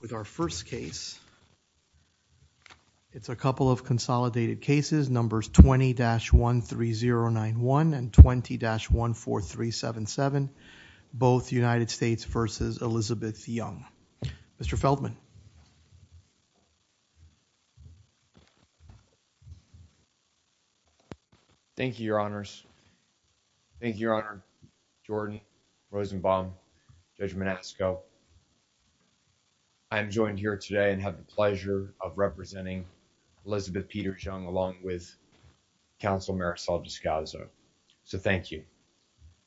with our first case. It's a couple of consolidated cases, numbers 20-13091 and 20-14377, both United States v. Elizabeth Young. Mr. Feldman. Thank you, your honors. Thank you, your honor. Jordan Rosenbaum, Judge Monasco. I'm joined here today and have the pleasure of representing Elizabeth Peter Young, along with counsel Marisol Descasso. So thank you.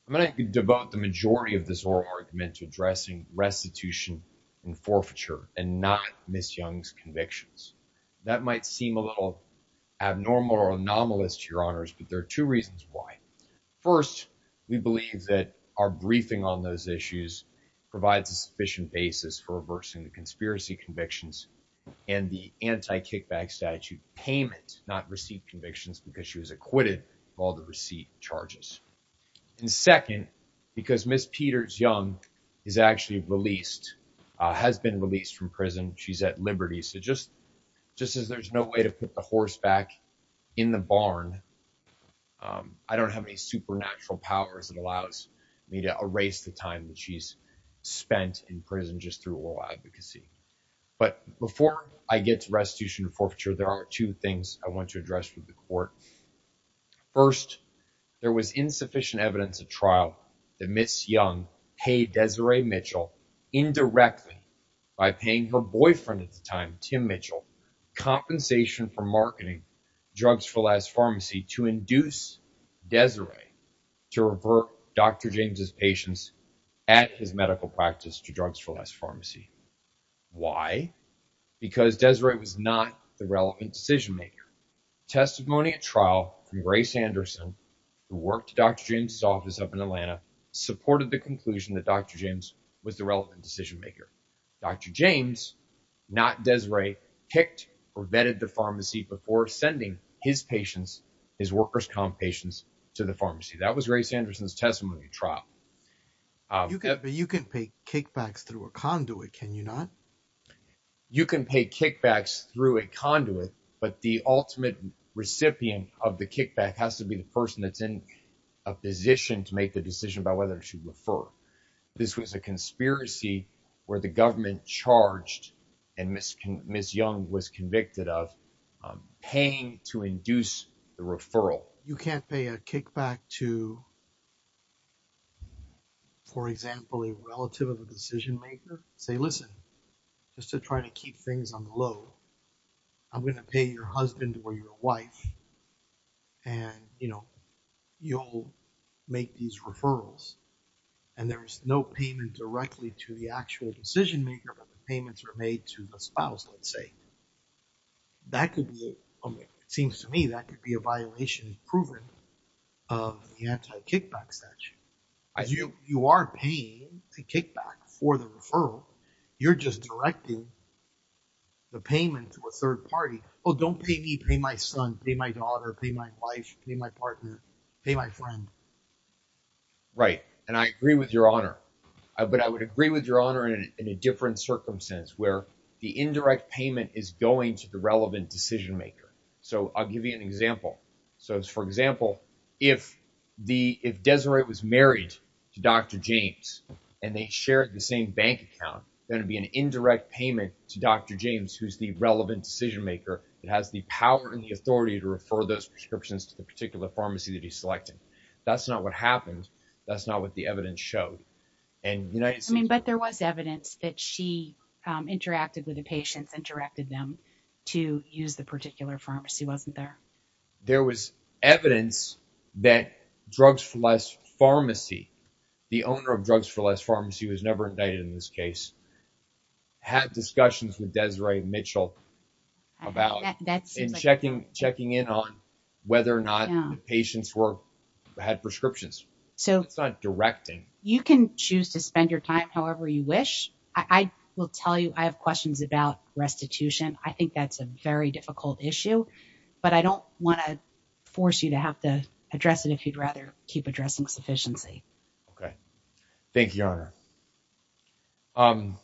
I'm going to devote the majority of this oral argument to addressing restitution and forfeiture and not Ms. Young's convictions. That might seem a little abnormal or anomalous to your honors, but there are two reasons why. First, we believe that our briefing on those issues provides a sufficient basis for reversing the conspiracy convictions and the anti-kickback statute payment, not receipt convictions, because she was acquitted of all the receipt charges. And second, because Ms. Peters Young is actually released, has been released from prison. She's at liberty. So just as there's no way to put the horse back in the barn, I don't have any supernatural powers that allows me to erase the time that she's spent in prison just through oral advocacy. But before I get to restitution and forfeiture, there are two things I want to address with the court. First, there was insufficient evidence of trial that Ms. Young paid Desiree Mitchell indirectly by paying her boyfriend at the time, Tim Mitchell, compensation for marketing drugs for last pharmacy to induce Desiree to revert Dr. James's patients at his medical practice to drugs for last pharmacy. Why? Because Desiree was not the relevant decision maker. Testimony at trial from Grace Anderson, who worked Dr. James's office up in Atlanta, supported the conclusion that Dr. James was the relevant decision maker. Dr. James, not Desiree, kicked or vetted the pharmacy before sending his patients, his workers' comp patients, to the pharmacy. That was Grace Anderson's testimony at trial. You can pay kickbacks through a conduit, can you not? For example, a relative of a decision maker, say, listen, just to try to keep things on the low, I'm going to pay your husband or your wife, and you'll make these referrals, and there's no payment directly to the actual decision maker, but the payments are made to the spouse, let's say. That could be, it seems to me, that could be a violation proven of the anti-kickback statute. You are paying the kickback for the referral, you're just directing the payment to a third party. Oh, don't pay me, pay my son, pay my daughter, pay my wife, pay my partner, pay my friend. Right, and I agree with your honor, but I would agree with your honor in a different circumstance, where the indirect payment is going to the relevant decision maker. So, I'll give you an example. So, for example, if Desiree was married to Dr. James, and they shared the same bank account, there's going to be an indirect payment to Dr. James, who's the relevant decision maker, that has the power and the authority to refer those prescriptions to the particular pharmacy that he's selecting. That's not what happened, that's not what the evidence showed. I mean, but there was evidence that she interacted with the patients, interacted them to use the particular pharmacy, wasn't there? There was evidence that Drugs for Less Pharmacy, the owner of Drugs for Less Pharmacy, who was never indicted in this case, had discussions with Desiree Mitchell about checking in on whether or not the patients had prescriptions. So, you can choose to spend your time however you wish. I will tell you, I have questions about restitution. I think that's a very difficult issue, but I don't want to force you to have to address it if you'd rather keep addressing sufficiency. Thank you, Your Honor. So,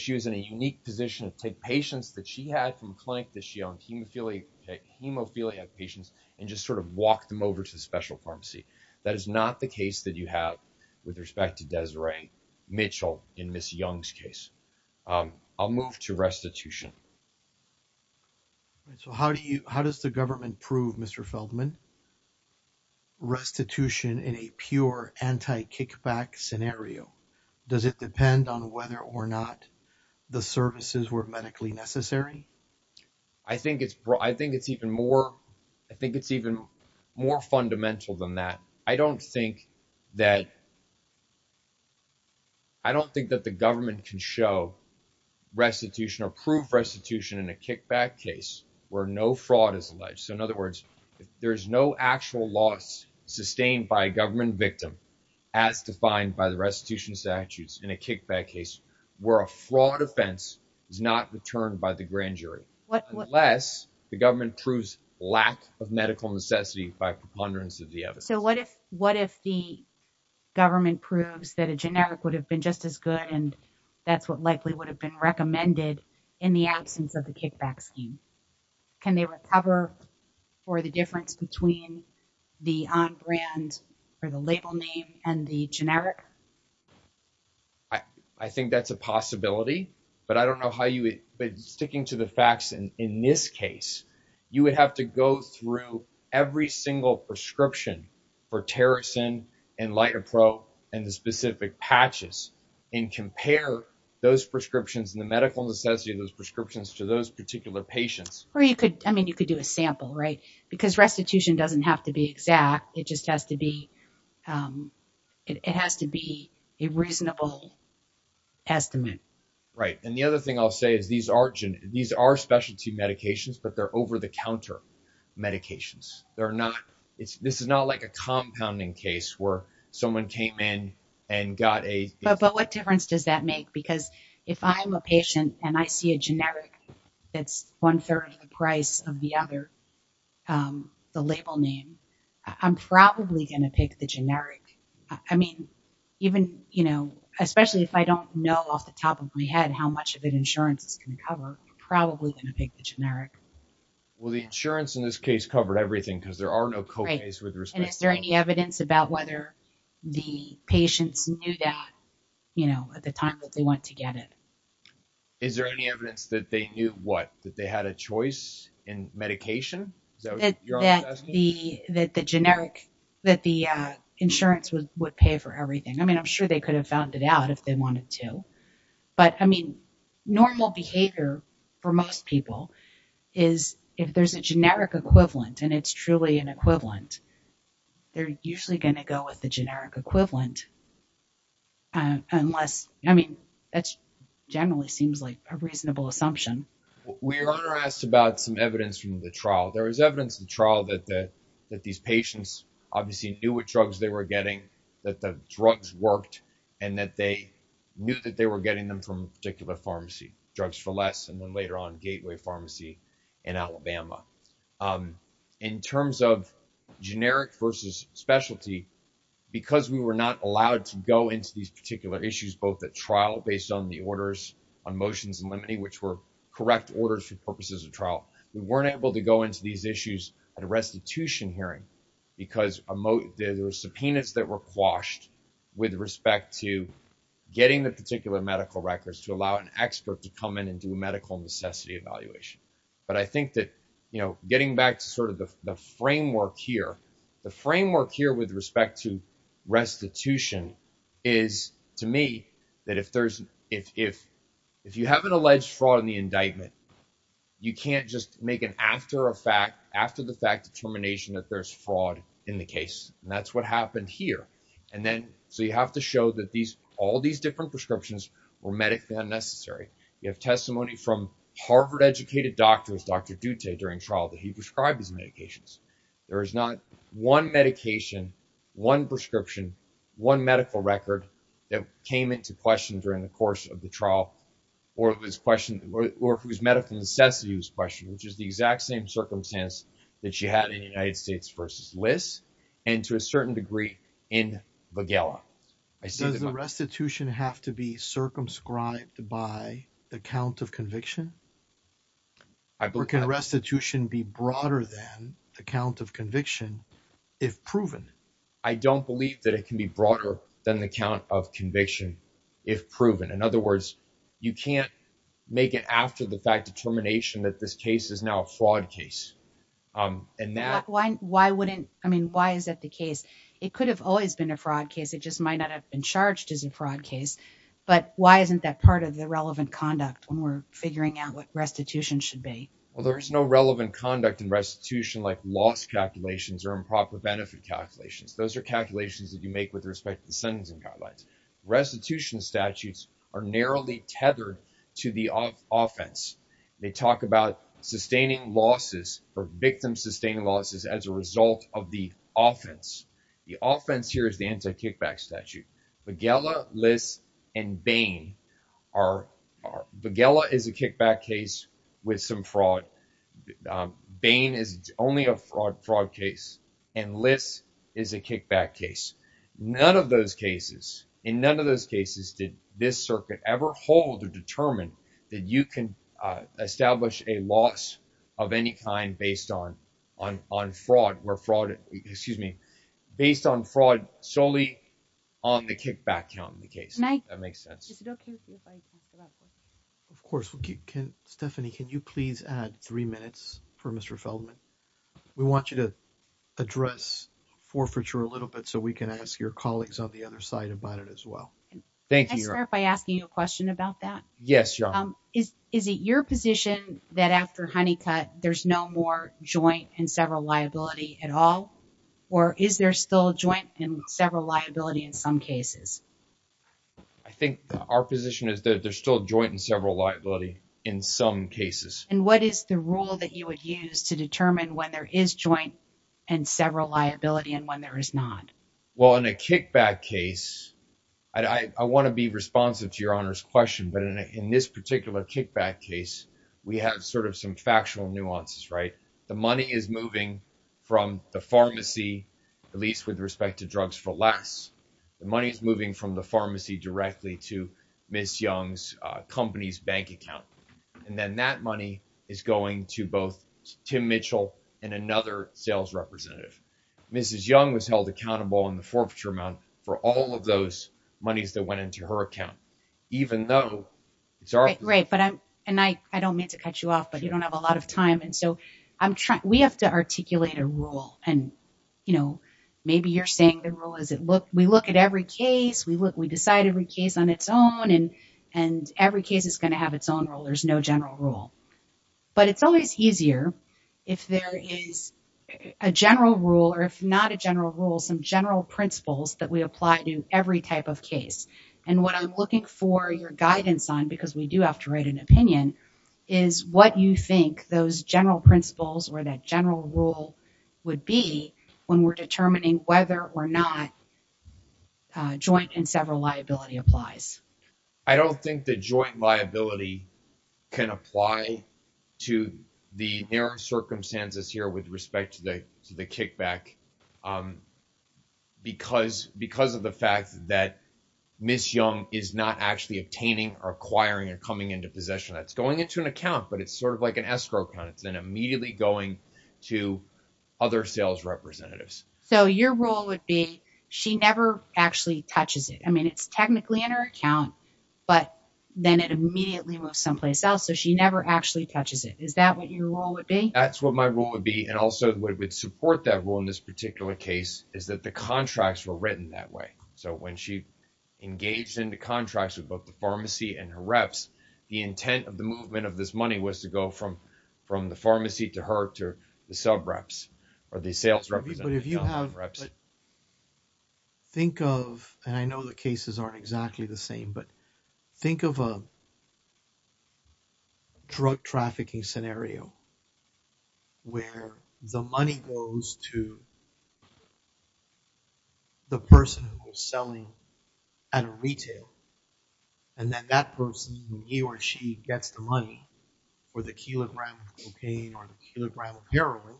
she was in a unique position to take patients that she had from the clinic that she owned, hemophiliac patients, and just sort of walk them over to the special pharmacy. That is not the case that you have with respect to Desiree Mitchell in Ms. Young's case. I'll move to restitution. So, how does the government prove, Mr. Feldman, restitution in a pure anti-kickback scenario? Does it depend on whether or not the services were medically necessary? I think it's even more fundamental than that. I don't think that the government can show restitution or prove restitution in a kickback case where no fraud is alleged. So, in other words, there is no actual loss sustained by a government victim as defined by the restitution statutes in a kickback case where a fraud offense is not returned by the grand jury, unless the government proves lack of medical necessity by preponderance of the evidence. So, what if the government proves that a generic would have been just as good and that's what likely would have been recommended in the absence of the kickback scheme? Can they recover for the difference between the on-brand or the label name and the generic? I think that's a possibility, but I don't know how you would, but sticking to the facts in this case, you would have to go through every single prescription for Tericin and Litaprobe and the specific patches and compare those prescriptions and the medical necessity of those prescriptions to those particular patients. Or you could, I mean, you could do a sample, right? Because restitution doesn't have to be exact. It just has to be a reasonable estimate. Right. And the other thing I'll say is these are specialty medications, but they're over-the-counter medications. This is not like a compounding case where someone came in and got a... But what difference does that make? Because if I'm a patient and I see a generic that's one third of the price of the other, the label name, I'm probably going to pick the generic. I mean, even, you know, especially if I don't know off the top of my head how much of an insurance is going to cover, I'm probably going to pick the generic. Well, the insurance in this case covered everything because there are no copays with respect to... Right. And is there any evidence about whether the patients knew that, you know, at the time that they went to get it? Is there any evidence that they knew what? That they had a choice in medication? Is that what you're asking? That the insurance would pay for everything. I mean, I'm sure they could have found it out if they wanted to. But, I mean, normal behavior for most people is if there's a generic equivalent and it's truly an equivalent, they're usually going to go with the generic equivalent unless... I mean, that generally seems like a reasonable assumption. We were asked about some evidence from the trial. There is evidence in the trial that these patients obviously knew what drugs they were getting, that the drugs worked, and that they knew that they were getting them from a particular pharmacy, Drugs for Less, and then later on Gateway Pharmacy in Alabama. In terms of generic versus specialty, because we were not allowed to go into these particular issues, both at trial based on the orders on motions and limiting, which were correct orders for purposes of trial, we weren't able to go into these issues at a restitution hearing because there were subpoenas that were quashed with respect to getting the particular medical records to allow an expert to come in and do a medical necessity evaluation. But I think that getting back to sort of the framework here, the framework here with respect to restitution is, to me, that if you have an alleged fraud in the indictment, you can't just make an after the fact determination that there's fraud in the case. And that's what happened here. So you have to show that all these different prescriptions were medically unnecessary. You have testimony from Harvard educated doctors, Dr. Dutte, during trial that he prescribed his medications. There is not one medication, one prescription, one medical record that came into question during the course of the trial or whose medical necessity was questioned, which is the exact same circumstance that you had in the United States versus LIS. And to a certain degree in Magella. Does the restitution have to be circumscribed by the count of conviction? Or can restitution be broader than the count of conviction if proven? I don't believe that it can be broader than the count of conviction if proven. In other words, you can't make it after the fact determination that this case is now a fraud case. Why is that the case? It could have always been a fraud case. It just might not have been charged as a fraud case. But why isn't that part of the relevant conduct when we're figuring out what restitution should be? Well, there is no relevant conduct in restitution like loss calculations or improper benefit calculations. Those are calculations that you make with respect to the sentencing guidelines. Restitution statutes are narrowly tethered to the offense. They talk about sustaining losses or victim sustaining losses as a result of the offense. The offense here is the anti-kickback statute. Magella, LIS, and Bain. Magella is a kickback case with some fraud. Bain is only a fraud case. And LIS is a kickback case. In none of those cases did this circuit ever hold or determine that you can establish a loss of any kind based on fraud solely on the kickback count in the case. Stephanie, can you please add three minutes for Mr. Feldman? We want you to address forfeiture a little bit so we can ask your colleagues on the other side about it as well. Can I start by asking you a question about that? Is it your position that after honeycut there's no more joint and several liability at all? Or is there still joint and several liability in some cases? I think our position is that there's still joint and several liability in some cases. And what is the rule that you would use to determine when there is joint and several liability and when there is not? Well, in a kickback case, I want to be responsive to your Honor's question, but in this particular kickback case, we have sort of some factual nuances, right? The money is moving from the pharmacy, at least with respect to drugs for less. The money is moving from the pharmacy directly to Ms. Young's company's bank account. And then that money is going to both Tim Mitchell and another sales representative. Mrs. Young was held accountable in the forfeiture amount for all of those monies that went into her account. And I don't mean to cut you off, but you don't have a lot of time. And so we have to articulate a rule. And maybe you're saying the rule is we look at every case, we decide every case on its own, and every case is going to have its own rule. There's no general rule. But it's always easier if there is a general rule or if not a general rule, some general principles that we apply to every type of case. And what I'm looking for your guidance on, because we do have to write an opinion, is what you think those general principles or that general rule would be when we're determining whether or not joint and several liability applies. I don't think the joint liability can apply to the narrow circumstances here with respect to the kickback because of the fact that Ms. Young is not actually obtaining or acquiring or coming into possession. That's going into an account, but it's sort of like an escrow account. It's then immediately going to other sales representatives. So your rule would be she never actually touches it. I mean, it's technically in her account, but then it immediately moves someplace else. So she never actually touches it. Is that what your rule would be? That's what my rule would be. And also what would support that rule in this particular case is that the contracts were written that way. So when she engaged in the contracts with both the pharmacy and her reps, the intent of the movement of this money was to go from the pharmacy to her to the sub reps or the sales representatives. But if you have, think of, and I know the cases aren't exactly the same, but think of a drug trafficking scenario where the money goes to the person who was selling at a retail. And then that person, he or she gets the money for the kilogram of cocaine or the kilogram of heroin,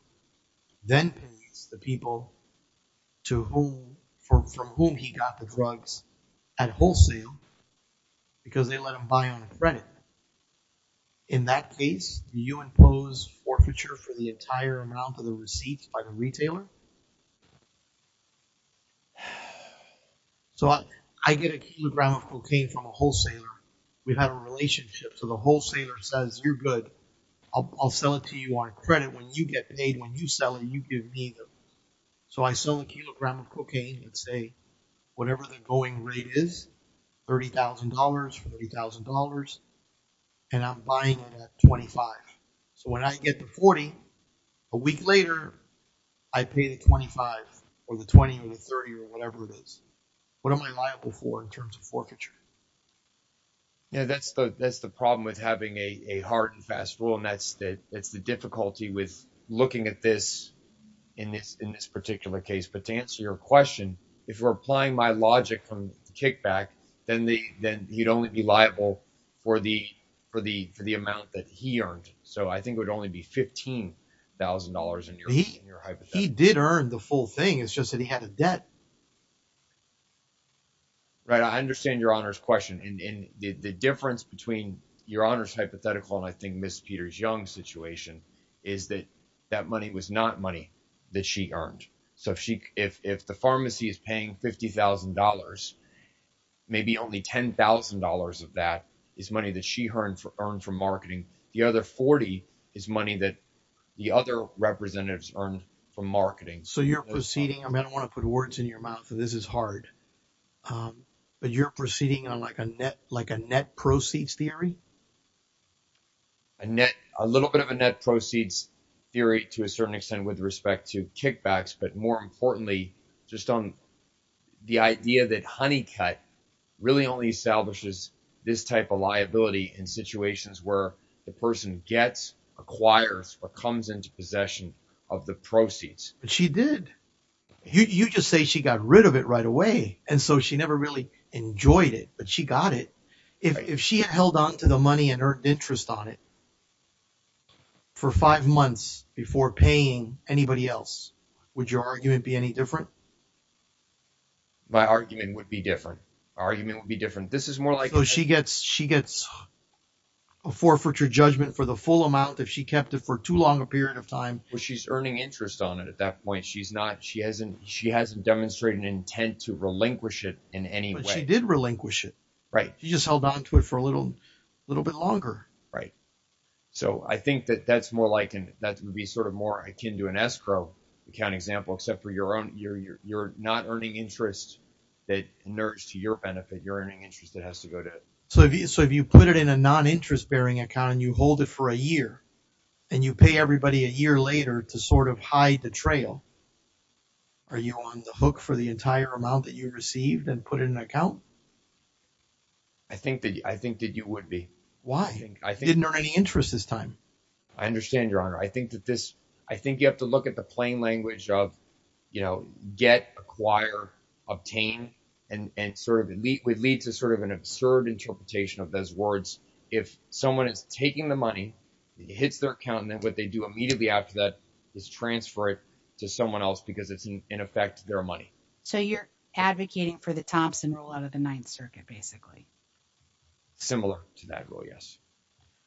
then pays the people to whom, from whom he got the drugs at wholesale because they let him buy on credit. In that case, you impose forfeiture for the entire amount of the receipts by the retailer. So I get a kilogram of cocaine from a wholesaler. We've had a relationship. So the wholesaler says, you're good. I'll sell it to you on credit. When you get paid, when you sell it, you give me the. So, I sell a kilogram of cocaine and say, whatever the going rate is, $30,000, $40,000, and I'm buying it at 25. So, when I get to 40, a week later, I pay the 25 or the 20 or the 30 or whatever it is. What am I liable for in terms of forfeiture? Yeah, that's the problem with having a hard and fast rule. And that's the difficulty with looking at this in this particular case. But to answer your question, if you're applying my logic from the kickback, then you'd only be liable for the amount that he earned. So, I think it would only be $15,000 in your hypothetical. He did earn the full thing. It's just that he had a debt. Right. I understand your Honor's question. And the difference between your Honor's hypothetical and I think Ms. Peters-Young's situation is that that money was not money that she earned. So, if the pharmacy is paying $50,000, maybe only $10,000 of that is money that she earned from marketing. The other $40,000 is money that the other representatives earned from marketing. So, you're proceeding. I don't want to put words in your mouth. This is hard. But you're proceeding on like a net proceeds theory? A little bit of a net proceeds theory to a certain extent with respect to kickbacks. But more importantly, just on the idea that Honeycutt really only establishes this type of liability in situations where the person gets, acquires, or comes into possession of the proceeds. She did. You just say she got rid of it right away. And so, she never really enjoyed it. But she got it. If she had held on to the money and earned interest on it for five months before paying anybody else, would your argument be any different? My argument would be different. My argument would be different. This is more like… So, she gets a forfeiture judgment for the full amount if she kept it for too long a period of time. Well, she's earning interest on it at that point. She hasn't demonstrated an intent to relinquish it in any way. But she did relinquish it. She just held on to it for a little bit longer. Right. So, I think that would be sort of more akin to an escrow account example, except for you're not earning interest that nourished to your benefit. You're earning interest that has to go to… So, if you put it in a non-interest bearing account and you hold it for a year, and you pay everybody a year later to sort of hide the trail, are you on the hook for the entire amount that you received and put it in an account? I think that you would be. Why? You didn't earn any interest this time. I understand, Your Honor. I think that this… I think you have to look at the plain language of, you know, get, acquire, obtain, and sort of lead to sort of an absurd interpretation of those words. If someone is taking the money, it hits their account, and then what they do immediately after that is transfer it to someone else because it's, in effect, their money. So, you're advocating for the Thompson rule out of the Ninth Circuit, basically. Similar to that rule, yes.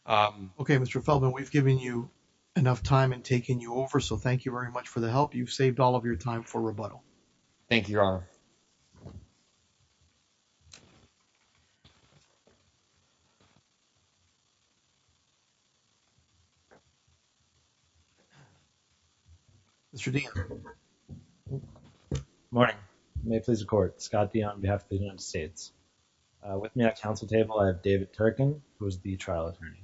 Okay, Mr. Feldman, we've given you enough time in taking you over, so thank you very much for the help. You've saved all of your time for rebuttal. Thank you, Your Honor. Mr. Dean. Good morning. May it please the Court. Scott Dean on behalf of the United States. With me at the Council table, I have David Turkin, who is the trial attorney.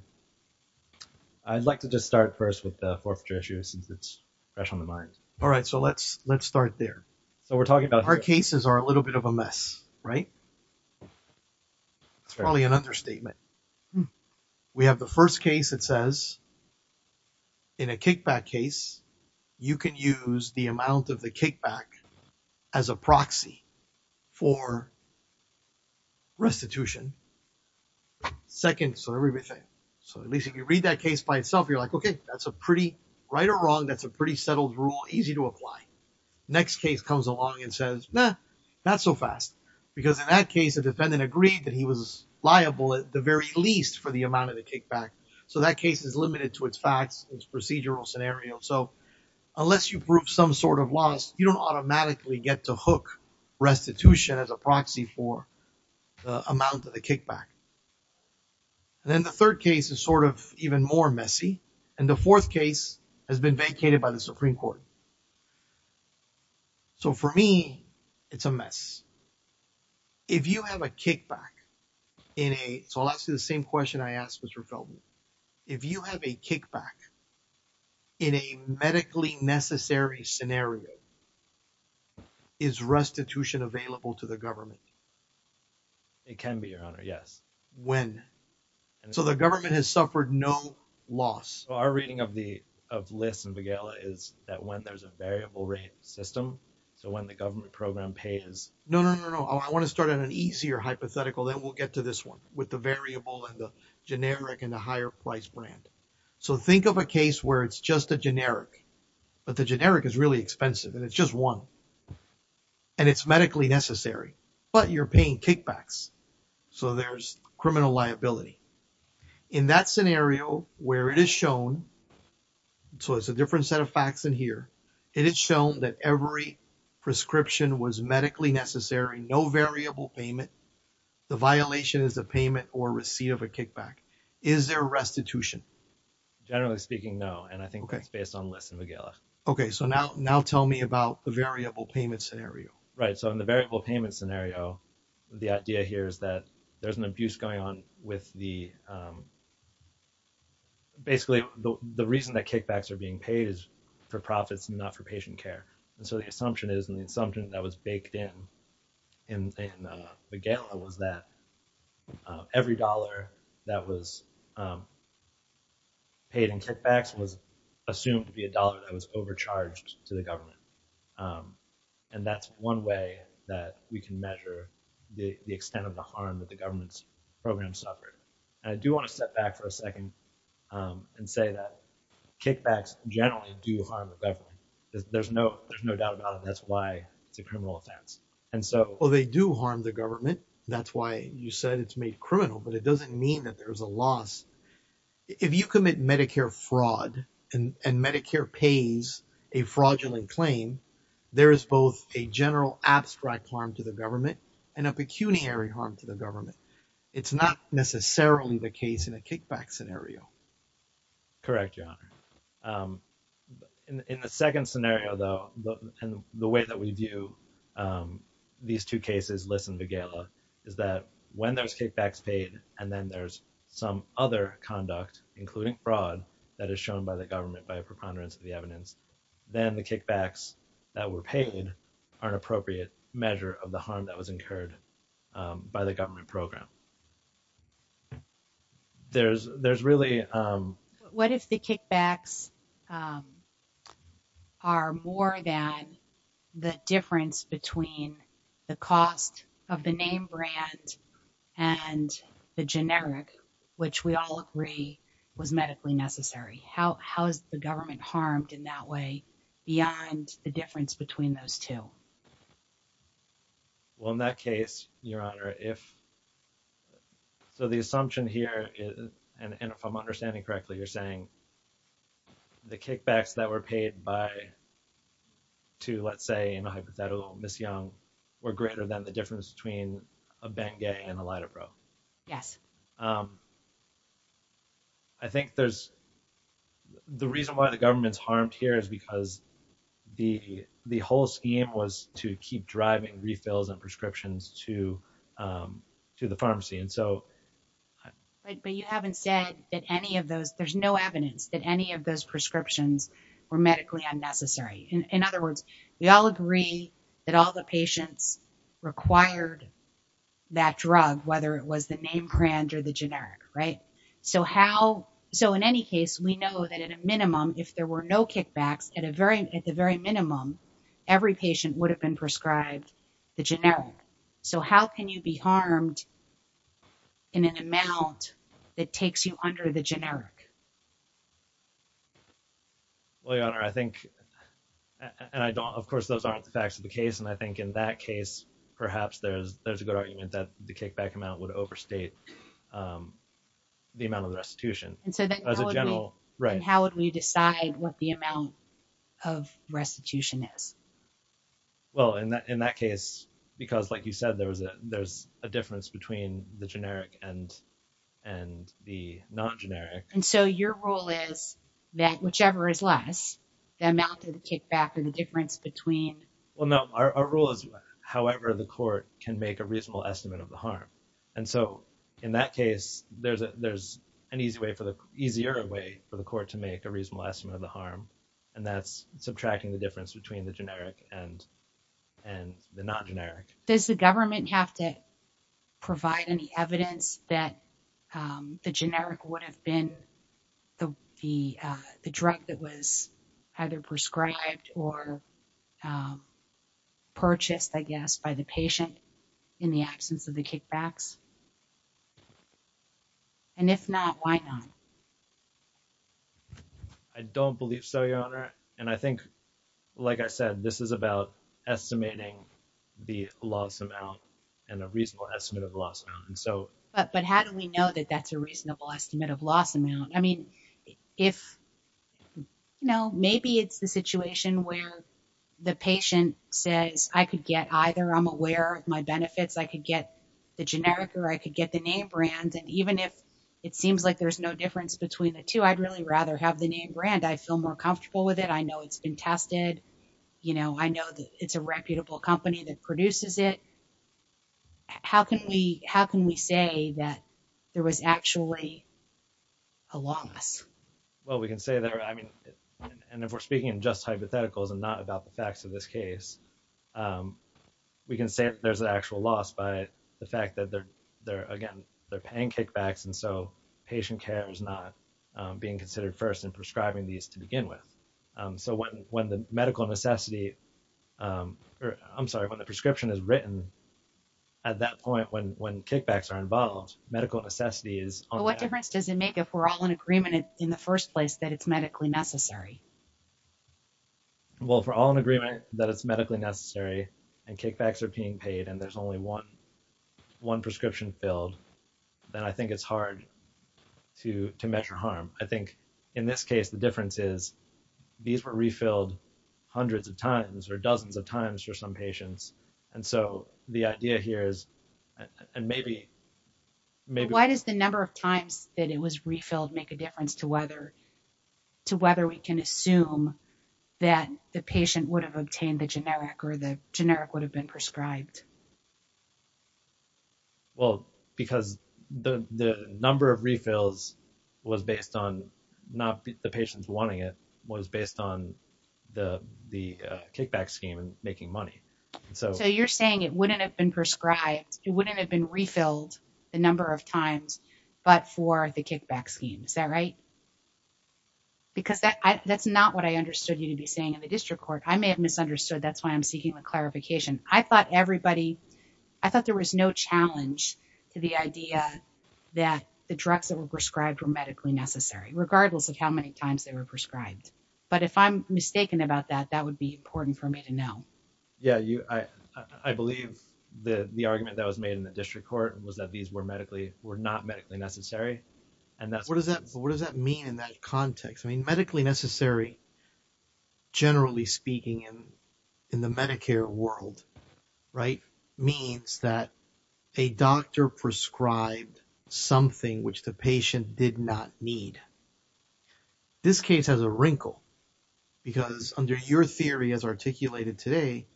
I'd like to just start first with the forfeiture issue since it's fresh on the mind. All right, so let's start there. So, we're talking about… Our cases are a little bit of a mess, right? That's probably an understatement. We have the first case that says, in a kickback case, you can use the amount of the kickback as a proxy for restitution. Second, so everything. So, at least if you read that case by itself, you're like, okay, that's a pretty… right or wrong, that's a pretty settled rule, easy to apply. Next case comes along and says, nah, not so fast. Because in that case, the defendant agreed that he was liable at the very least for the amount of the kickback. So, that case is limited to its facts, its procedural scenario. So, unless you prove some sort of loss, you don't automatically get to hook restitution as a proxy for the amount of the kickback. And then the third case is sort of even more messy. And the fourth case has been vacated by the Supreme Court. So, for me, it's a mess. If you have a kickback in a… So, I'll ask you the same question I asked Mr. Feldman. If you have a kickback in a medically necessary scenario, is restitution available to the government? It can be, Your Honor, yes. When? So, the government has suffered no loss. So, our reading of the list, Miguel, is that when there's a variable rate system, so when the government program pays… No, no, no, no. I want to start on an easier hypothetical. Then we'll get to this one with the variable and the generic and the higher price brand. So, think of a case where it's just a generic, but the generic is really expensive and it's just one. And it's medically necessary, but you're paying kickbacks. So, there's criminal liability. In that scenario where it is shown… So, it's a different set of facts in here. It is shown that every prescription was medically necessary, no variable payment. The violation is a payment or receipt of a kickback. Is there restitution? Generally speaking, no. And I think it's based on the list, Miguel. Okay. So, now tell me about the variable payment scenario. Right. So, in the variable payment scenario, the idea here is that there's an abuse going on with the… Basically, the reason that kickbacks are being paid is for profits and not for patient care. And so, the assumption is… And the assumption that was baked in Miguel was that every dollar that was paid in kickbacks was assumed to be a dollar that was overcharged to the government. And that's one way that we can measure the extent of the harm that the government's program suffered. And I do want to step back for a second and say that kickbacks generally do harm the government. There's no doubt about it. That's why it's a criminal offense. Well, they do harm the government. That's why you said it's made criminal, but it doesn't mean that there's a loss. If you commit Medicare fraud and Medicare pays a fraudulent claim, there is both a general abstract harm to the government and a pecuniary harm to the government. It's not necessarily the case in a kickback scenario. Correct, Your Honor. In the second scenario, though, and the way that we view these two cases, Liss and Vigela, is that when there's kickbacks paid and then there's some other conduct, including fraud, that is shown by the government by a preponderance of the evidence, then the kickbacks that were paid are an appropriate measure of the harm that was incurred by the government program. There's really… What if the kickbacks are more than the difference between the cost of the name brand and the generic, which we all agree was medically necessary? How is the government harmed in that way beyond the difference between those two? Well, in that case, Your Honor, if… So the assumption here is, and if I'm understanding correctly, you're saying the kickbacks that were paid by two, let's say, in a hypothetical Miss Young were greater than the difference between a Bengay and a Lidipro. Yes. I think there's… The reason why the government's harmed here is because the whole scheme was to keep driving refills and prescriptions to the pharmacy. And so… But you haven't said that any of those… There's no evidence that any of those prescriptions were medically unnecessary. In other words, we all agree that all the patients required that drug, whether it was the name brand or the generic, right? So how… So in any case, we know that at a minimum, if there were no kickbacks, at the very minimum, every patient would have been prescribed the generic. So how can you be harmed in an amount that takes you under the generic? Well, Your Honor, I think… And I don't… Of course, those aren't the facts of the case. And I think in that case, perhaps there's a good argument that the kickback amount would overstate the amount of restitution. And so then how would we… As a general… Right. And how would we decide what the amount of restitution is? Well, in that case, because like you said, there's a difference between the generic and the non-generic. And so your rule is that whichever is less, the amount of the kickback and the difference between… Well, no. Our rule is however the court can make a reasonable estimate of the harm. And so in that case, there's an easier way for the court to make a reasonable estimate of the harm, and that's subtracting the difference between the generic and the non-generic. Does the government have to provide any evidence that the generic would have been the drug that was either prescribed or purchased, I guess, by the patient in the absence of the kickbacks? And if not, why not? I don't believe so, Your Honor. And I think, like I said, this is about estimating the loss amount and a reasonable estimate of the loss amount. But how do we know that that's a reasonable estimate of loss amount? I mean, if… No, maybe it's the situation where the patient says, I could get either. I'm aware of my benefits. I could get the generic or I could get the name brand. And even if it seems like there's no difference between the two, I'd really rather have the name brand. I feel more comfortable with it. I know it's been tested. I know that it's a reputable company that produces it. How can we say that there was actually a loss? Well, we can say that… I mean, and if we're speaking in just hypotheticals and not about the facts of this case, we can say that there's an actual loss by the fact that they're, again, they're paying kickbacks. And so patient care is not being considered first in prescribing these to begin with. So when the medical necessity… I'm sorry, when the prescription is written at that point, when kickbacks are involved, medical necessity is… But what difference does it make if we're all in agreement in the first place that it's medically necessary? Well, if we're all in agreement that it's medically necessary and kickbacks are being paid and there's only one prescription filled, then I think it's hard to measure harm. I think in this case, the difference is these were refilled hundreds of times or dozens of times for some patients. And so the idea here is… And maybe… How many times that it was refilled make a difference to whether we can assume that the patient would have obtained the generic or the generic would have been prescribed? Well, because the number of refills was based on not the patients wanting it, was based on the kickback scheme and making money. So you're saying it wouldn't have been prescribed, it wouldn't have been refilled the number of times, but for the kickback scheme. Is that right? Because that's not what I understood you to be saying in the district court. I may have misunderstood. That's why I'm seeking a clarification. I thought everybody… I thought there was no challenge to the idea that the drugs that were prescribed were medically necessary, regardless of how many times they were prescribed. But if I'm mistaken about that, that would be important for me to know. Yeah, you… I believe the argument that was made in the district court was that these were medically… were not medically necessary. And that's… A doctor prescribed something which the patient did not need. This case has a wrinkle because under your theory as articulated today,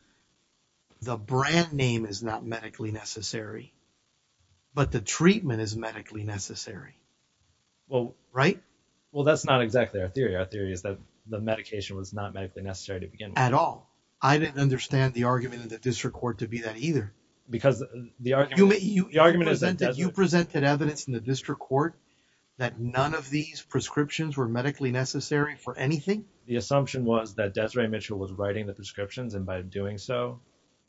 the brand name is not medically necessary, but the treatment is medically necessary. Right? Well, that's not exactly our theory. Our theory is that the medication was not medically necessary to begin with. At all. I didn't understand the argument in the district court to be that either. Because the argument… You presented evidence in the district court that none of these prescriptions were medically necessary for anything? The assumption was that Desiree Mitchell was writing the prescriptions and by doing so…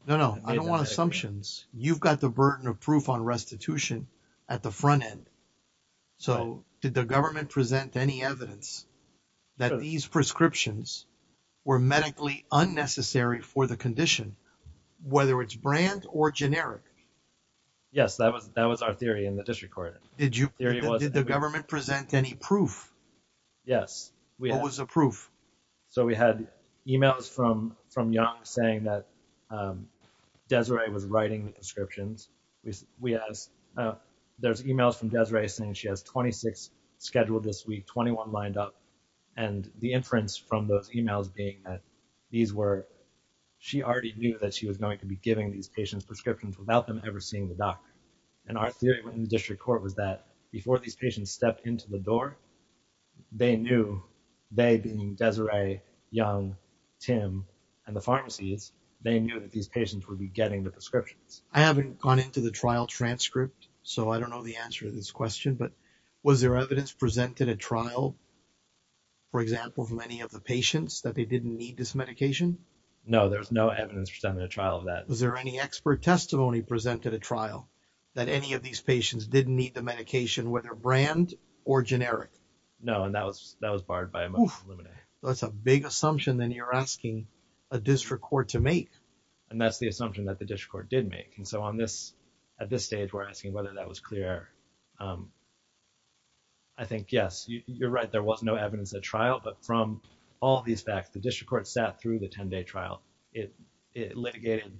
No, no. I don't want assumptions. You've got the burden of proof on restitution at the front end. So, did the government present any evidence that these prescriptions were medically unnecessary for the condition, whether it's brand or generic? Yes, that was our theory in the district court. Did you… Did the government present any proof? Yes. What was the proof? So, we had emails from Young saying that Desiree was writing the prescriptions. There's emails from Desiree saying she has 26 scheduled this week, 21 lined up. And the inference from those emails being that these were… She already knew that she was going to be giving these patients prescriptions without them ever seeing the doctor. And our theory in the district court was that before these patients stepped into the door, they knew… They being Desiree, Young, Tim, and the pharmacies, they knew that these patients would be getting the prescriptions. I haven't gone into the trial transcript, so I don't know the answer to this question. But was there evidence presented at trial, for example, from any of the patients that they didn't need this medication? No, there was no evidence presented at trial of that. Was there any expert testimony presented at trial that any of these patients didn't need the medication, whether brand or generic? No, and that was barred by a motion to eliminate. That's a big assumption that you're asking a district court to make. And that's the assumption that the district court did make. And so, on this… At this stage, we're asking whether that was clear. I think, yes, you're right. There was no evidence at trial, but from all these facts, the district court sat through the 10-day trial. It litigated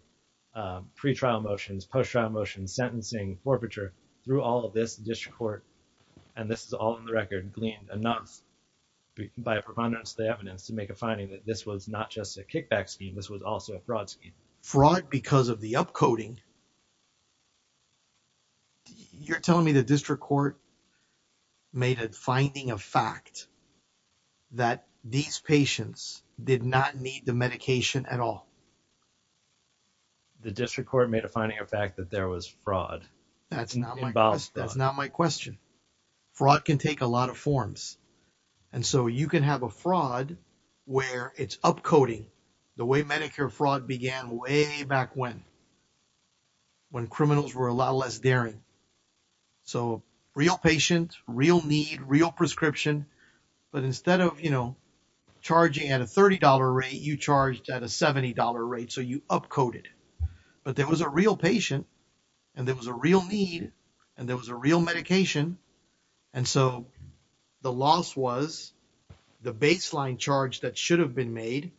pre-trial motions, post-trial motions, sentencing, forfeiture. Through all of this, the district court, and this is all in the record, gleaned enough by a preponderance of the evidence to make a finding that this was not just a kickback scheme. This was also a fraud scheme. Fraud because of the upcoding? You're telling me the district court made a finding of fact that these patients did not need the medication at all? The district court made a finding of fact that there was fraud involved. That's not my question. Fraud can take a lot of forms. And so, you can have a fraud where it's upcoding the way Medicare fraud began way back when. When criminals were a lot less daring. So, real patient, real need, real prescription. But instead of charging at a $30 rate, you charged at a $70 rate, so you upcoded. But there was a real patient, and there was a real need, and there was a real medication. And so, the loss was the baseline charge that should have been made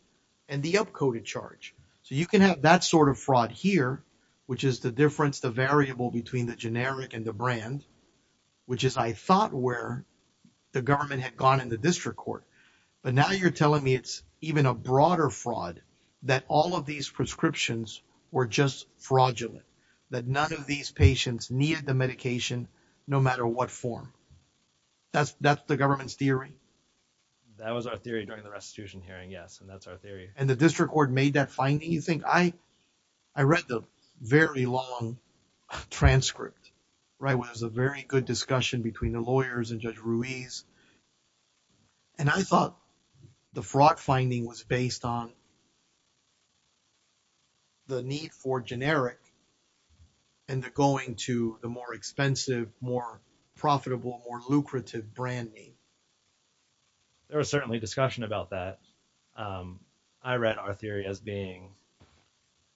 and the upcoded charge. So, you can have that sort of fraud here, which is the difference, the variable between the generic and the brand. Which is, I thought, where the government had gone in the district court. But now you're telling me it's even a broader fraud that all of these prescriptions were just fraudulent. That none of these patients needed the medication no matter what form. That's the government's theory? That was our theory during the restitution hearing, yes. And that's our theory. And the district court made that finding? You think? I read the very long transcript, right, where there's a very good discussion between the lawyers and Judge Ruiz. And I thought the fraud finding was based on the need for generic and the going to the more expensive, more profitable, more lucrative brand name. There was certainly discussion about that. I read our theory as being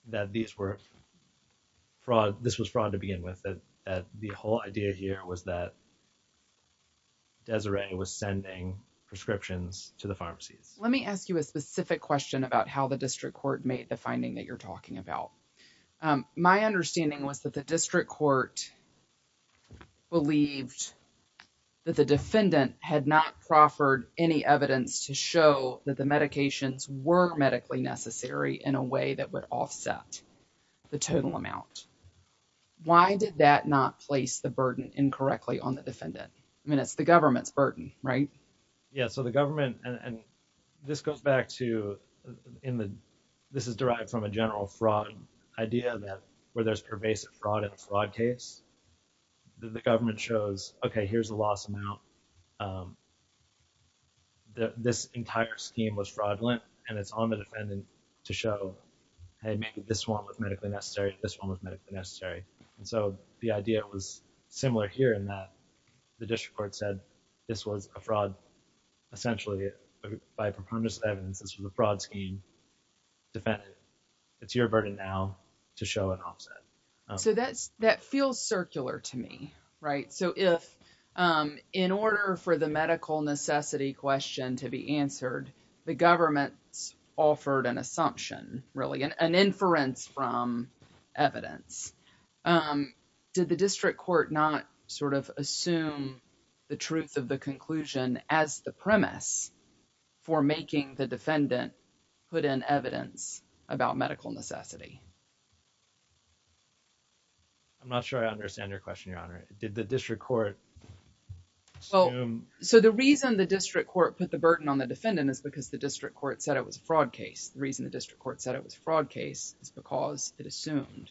that this was fraud to begin with. That the whole idea here was that Desiree was sending prescriptions to the pharmacies. Let me ask you a specific question about how the district court made the finding that you're talking about. My understanding was that the district court believed that the defendant had not proffered any evidence to show that the medications were medically necessary in a way that would offset the total amount. Why did that not place the burden incorrectly on the defendant? I mean, it's the government's burden, right? Yeah, so the government, and this goes back to, this is derived from a general fraud idea that where there's pervasive fraud in a fraud case, the government shows, okay, here's the loss amount. This entire scheme was fraudulent and it's on the defendant to show, hey, maybe this one was medically necessary, this one was medically necessary. And so the idea was similar here in that the district court said this was a fraud. Essentially, by performance evidence, this was a fraud scheme. Defendant, it's your burden now to show an offset. So that feels circular to me, right? So if in order for the medical necessity question to be answered, the government's offered an assumption, really an inference from evidence. Did the district court not sort of assume the truth of the conclusion as the premise for making the defendant put in evidence about medical necessity? I'm not sure I understand your question, Your Honor. Did the district court assume? So the reason the district court put the burden on the defendant is because the district court said it was a fraud case. The reason the district court said it was a fraud case is because it assumed,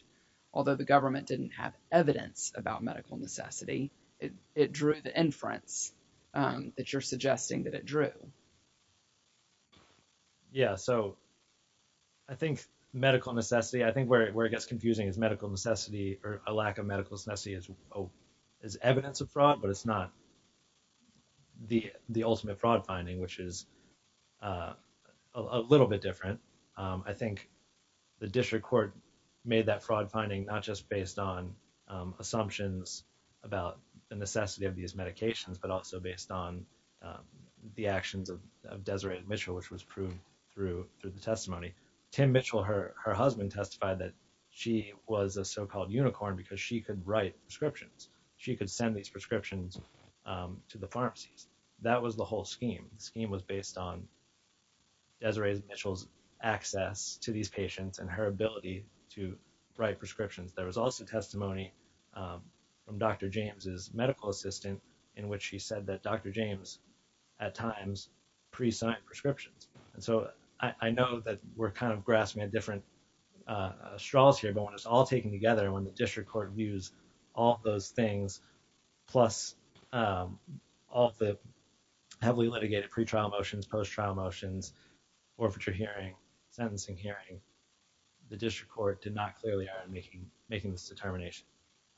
although the government didn't have evidence about medical necessity, it drew the inference that you're suggesting that it drew. Yeah, so I think medical necessity, I think where it gets confusing is medical necessity or a lack of medical necessity is evidence of fraud, but it's not the ultimate fraud finding, which is a little bit different. I think the district court made that fraud finding not just based on assumptions about the necessity of these medications, but also based on the actions of Desiree Mitchell, which was proven through the testimony. Tim Mitchell, her husband, testified that she was a so-called unicorn because she could write prescriptions. She could send these prescriptions to the pharmacies. That was the whole scheme. The scheme was based on Desiree Mitchell's access to these patients and her ability to write prescriptions. There was also testimony from Dr. James's medical assistant in which she said that Dr. James at times presigned prescriptions. And so I know that we're kind of grasping at different straws here, but when it's all taken together, when the district court views all those things, plus all the heavily litigated pretrial motions, post-trial motions, orphature hearing, sentencing hearing, the district court did not clearly are making this determination.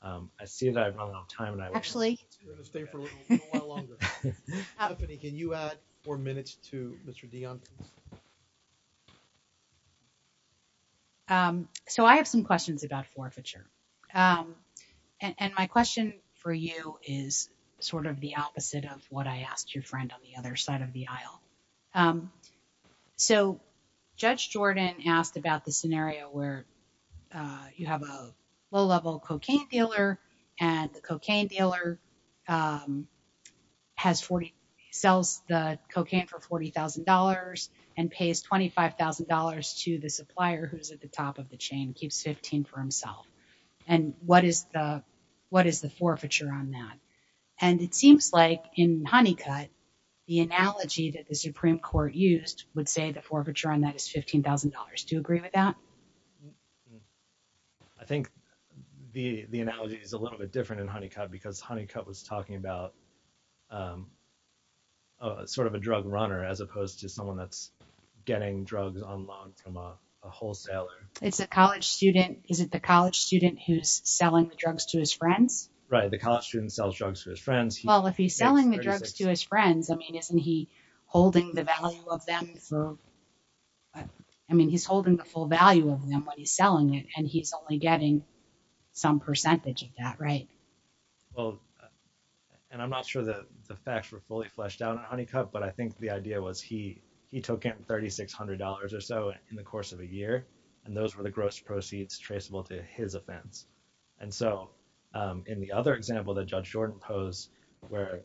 I see that I've run out of time. Actually. We're going to stay for a little while longer. Stephanie, can you add four minutes to Mr. Dion? So I have some questions about forfeiture. And my question for you is sort of the opposite of what I asked your friend on the other side of the aisle. So Judge Jordan asked about the scenario where you have a low-level cocaine dealer and the cocaine dealer sells the cocaine for $40,000 and pays $25,000 to the supplier who's at the top of the chain, keeps $15,000 for himself. And what is the forfeiture on that? And it seems like in Honeycutt, the analogy that the Supreme Court used would say the forfeiture on that is $15,000. Do you agree with that? I think the analogy is a little bit different in Honeycutt because Honeycutt was talking about sort of a drug runner as opposed to someone that's getting drugs on loan from a wholesaler. It's a college student. Is it the college student who's selling the drugs to his friends? Right, the college student sells drugs to his friends. Well, if he's selling the drugs to his friends, I mean, isn't he holding the value of them? I mean, he's holding the full value of them when he's selling it, and he's only getting some percentage of that, right? Well, and I'm not sure that the facts were fully fleshed out in Honeycutt, but I think the idea was he took in $3,600 or so in the course of a year. And those were the gross proceeds traceable to his offense. And so in the other example that Judge Jordan posed where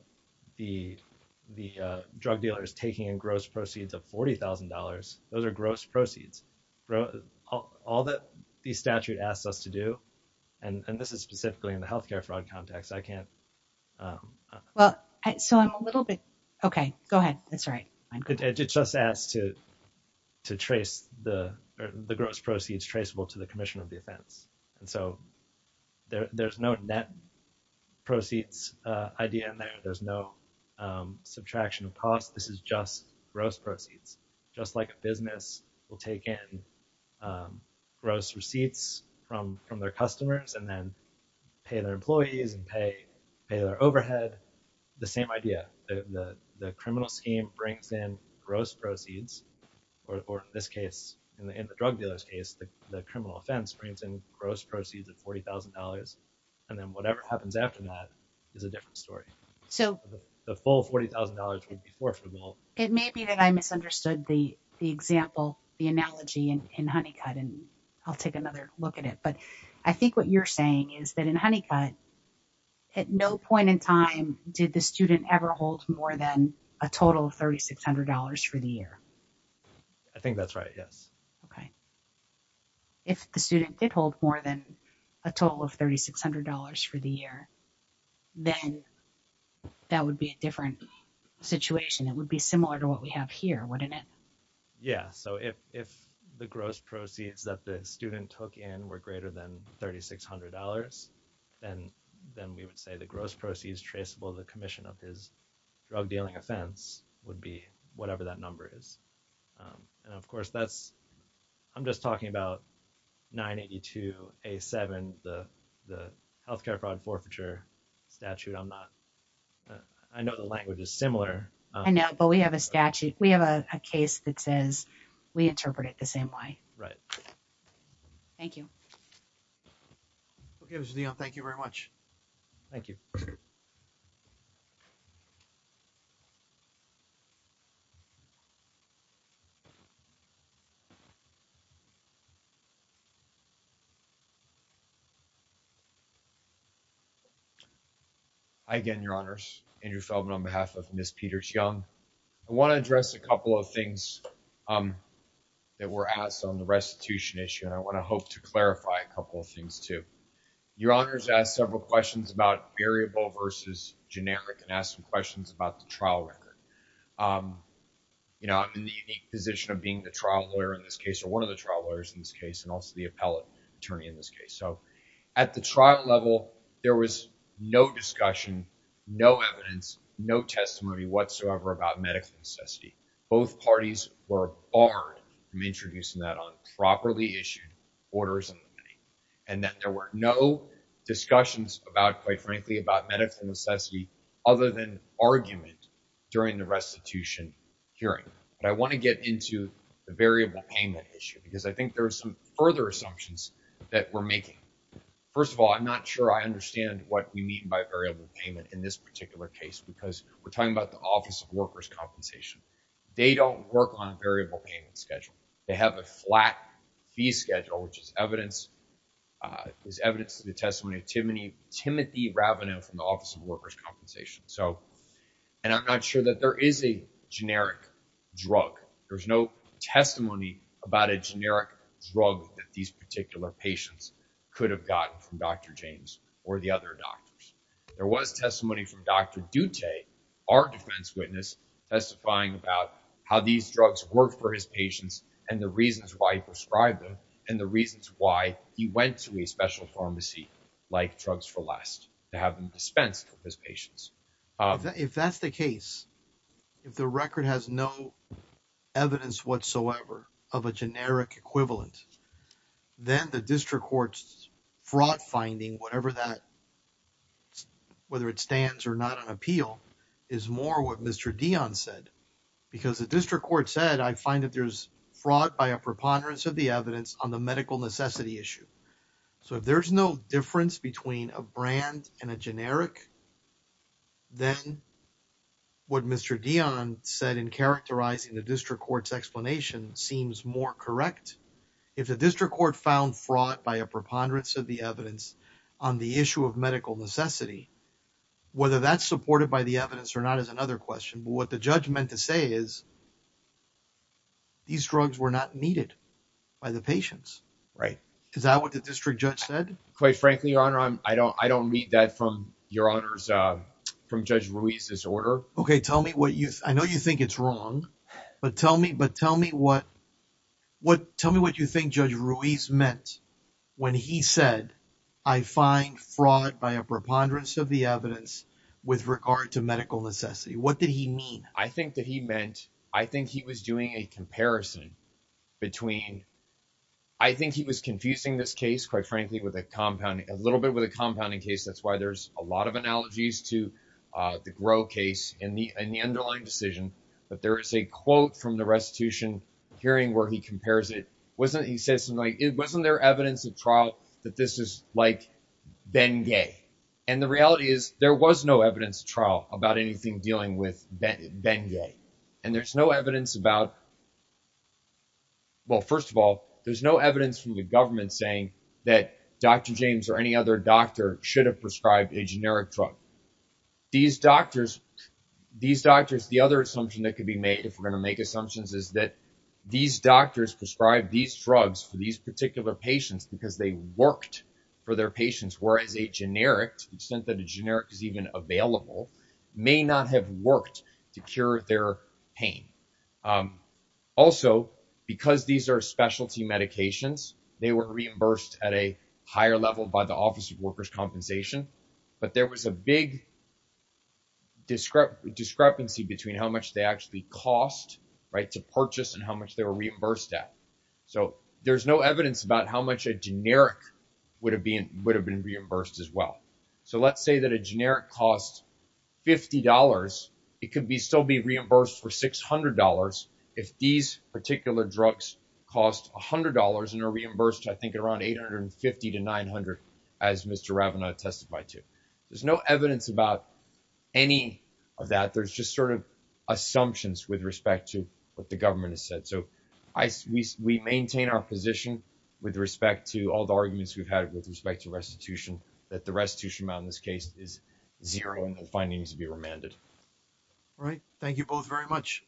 the drug dealer is taking in gross proceeds of $40,000, those are gross proceeds. All that the statute asks us to do, and this is specifically in the health care fraud context, I can't. Well, so I'm a little bit. Okay, go ahead. That's right. It just asks to trace the gross proceeds traceable to the commission of the offense. And so there's no net proceeds idea in there. There's no subtraction of costs. This is just gross proceeds, just like a business will take in gross receipts from their customers and then pay their employees and pay their overhead. The same idea. The criminal scheme brings in gross proceeds, or in this case, in the drug dealer's case, the criminal offense brings in gross proceeds of $40,000. And then whatever happens after that is a different story. So the full $40,000 would be forfeitable. It may be that I misunderstood the example, the analogy in Honeycutt, and I'll take another look at it. But I think what you're saying is that in Honeycutt, at no point in time did the student ever hold more than a total of $3,600 for the year. I think that's right. Yes. Okay. If the student did hold more than a total of $3,600 for the year, then that would be a different situation. It would be similar to what we have here, wouldn't it? Yeah, so if the gross proceeds that the student took in were greater than $3,600, then we would say the gross proceeds traceable to the commission of his drug dealing offense would be whatever that number is. And of course, I'm just talking about 982A7, the health care fraud forfeiture statute. I know the language is similar. I know, but we have a statute. We have a case that says we interpret it the same way. Right. Thank you. Okay, Mr. Dionne, thank you very much. Thank you. Hi again, Your Honors. Andrew Feldman on behalf of Ms. Peters-Young. I want to address a couple of things that were asked on the restitution issue, and I want to hope to clarify a couple of things, too. Your Honors asked several questions about variable versus generic and asked some questions about the trial record. You know, I'm in the unique position of being the trial lawyer in this case, or one of the trial lawyers in this case, and also the appellate attorney in this case. So at the trial level, there was no discussion, no evidence, no testimony whatsoever about medical necessity. Both parties were barred from introducing that on properly issued orders, and that there were no discussions about, quite frankly, about medical necessity other than argument during the restitution hearing. But I want to get into the variable payment issue because I think there are some further assumptions that we're making. First of all, I'm not sure I understand what we mean by variable payment in this particular case because we're talking about the Office of Workers' Compensation. They don't work on a variable payment schedule. They have a flat fee schedule, which is evidence to the testimony of Timothy Ravineau from the Office of Workers' Compensation. And I'm not sure that there is a generic drug. There's no testimony about a generic drug that these particular patients could have gotten from Dr. James or the other doctors. There was testimony from Dr. Dutte, our defense witness, testifying about how these drugs work for his patients and the reasons why he prescribed them and the reasons why he went to a special pharmacy like Drugs for Less to have them dispensed to his patients. If that's the case, if the record has no evidence whatsoever of a generic equivalent, then the district court's fraud finding, whatever that, whether it stands or not on appeal, is more what Mr. Dion said. Because the district court said, I find that there's fraud by a preponderance of the evidence on the medical necessity issue. So if there's no difference between a brand and a generic, then what Mr. Dion said in characterizing the district court's explanation seems more correct. If the district court found fraud by a preponderance of the evidence on the issue of medical necessity, whether that's supported by the evidence or not is another question. What the judge meant to say is these drugs were not needed by the patients, right? Is that what the district judge said? Quite frankly, your honor, I don't I don't read that from your honors from Judge Ruiz's order. I know you think it's wrong, but tell me what you think Judge Ruiz meant when he said, I find fraud by a preponderance of the evidence with regard to medical necessity. What did he mean? I think that he meant I think he was doing a comparison between. I think he was confusing this case, quite frankly, with a compound, a little bit with a compounding case. That's why there's a lot of analogies to the grow case in the in the underlying decision. But there is a quote from the restitution hearing where he compares it. Wasn't there evidence of trial that this is like Bengay? And the reality is there was no evidence trial about anything dealing with Bengay. And there's no evidence about. Well, first of all, there's no evidence from the government saying that Dr. James or any other doctor should have prescribed a generic drug. These doctors, these doctors, the other assumption that could be made if we're going to make assumptions is that these doctors prescribe these drugs for these particular patients because they worked for their patients. Whereas a generic that a generic is even available may not have worked to cure their pain. Also, because these are specialty medications, they were reimbursed at a higher level by the Office of Workers' Compensation. But there was a big. Describe the discrepancy between how much they actually cost to purchase and how much they were reimbursed at. So there's no evidence about how much a generic would have been would have been reimbursed as well. So let's say that a generic costs fifty dollars. It could be still be reimbursed for six hundred dollars if these particular drugs cost one hundred dollars and are reimbursed. I think around eight hundred and fifty to nine hundred as Mr. Ravana testified to. There's no evidence about any of that. There's just sort of assumptions with respect to what the government has said. So we maintain our position with respect to all the arguments we've had with respect to restitution, that the restitution amount in this case is zero and the findings to be remanded. Right. Thank you both very much.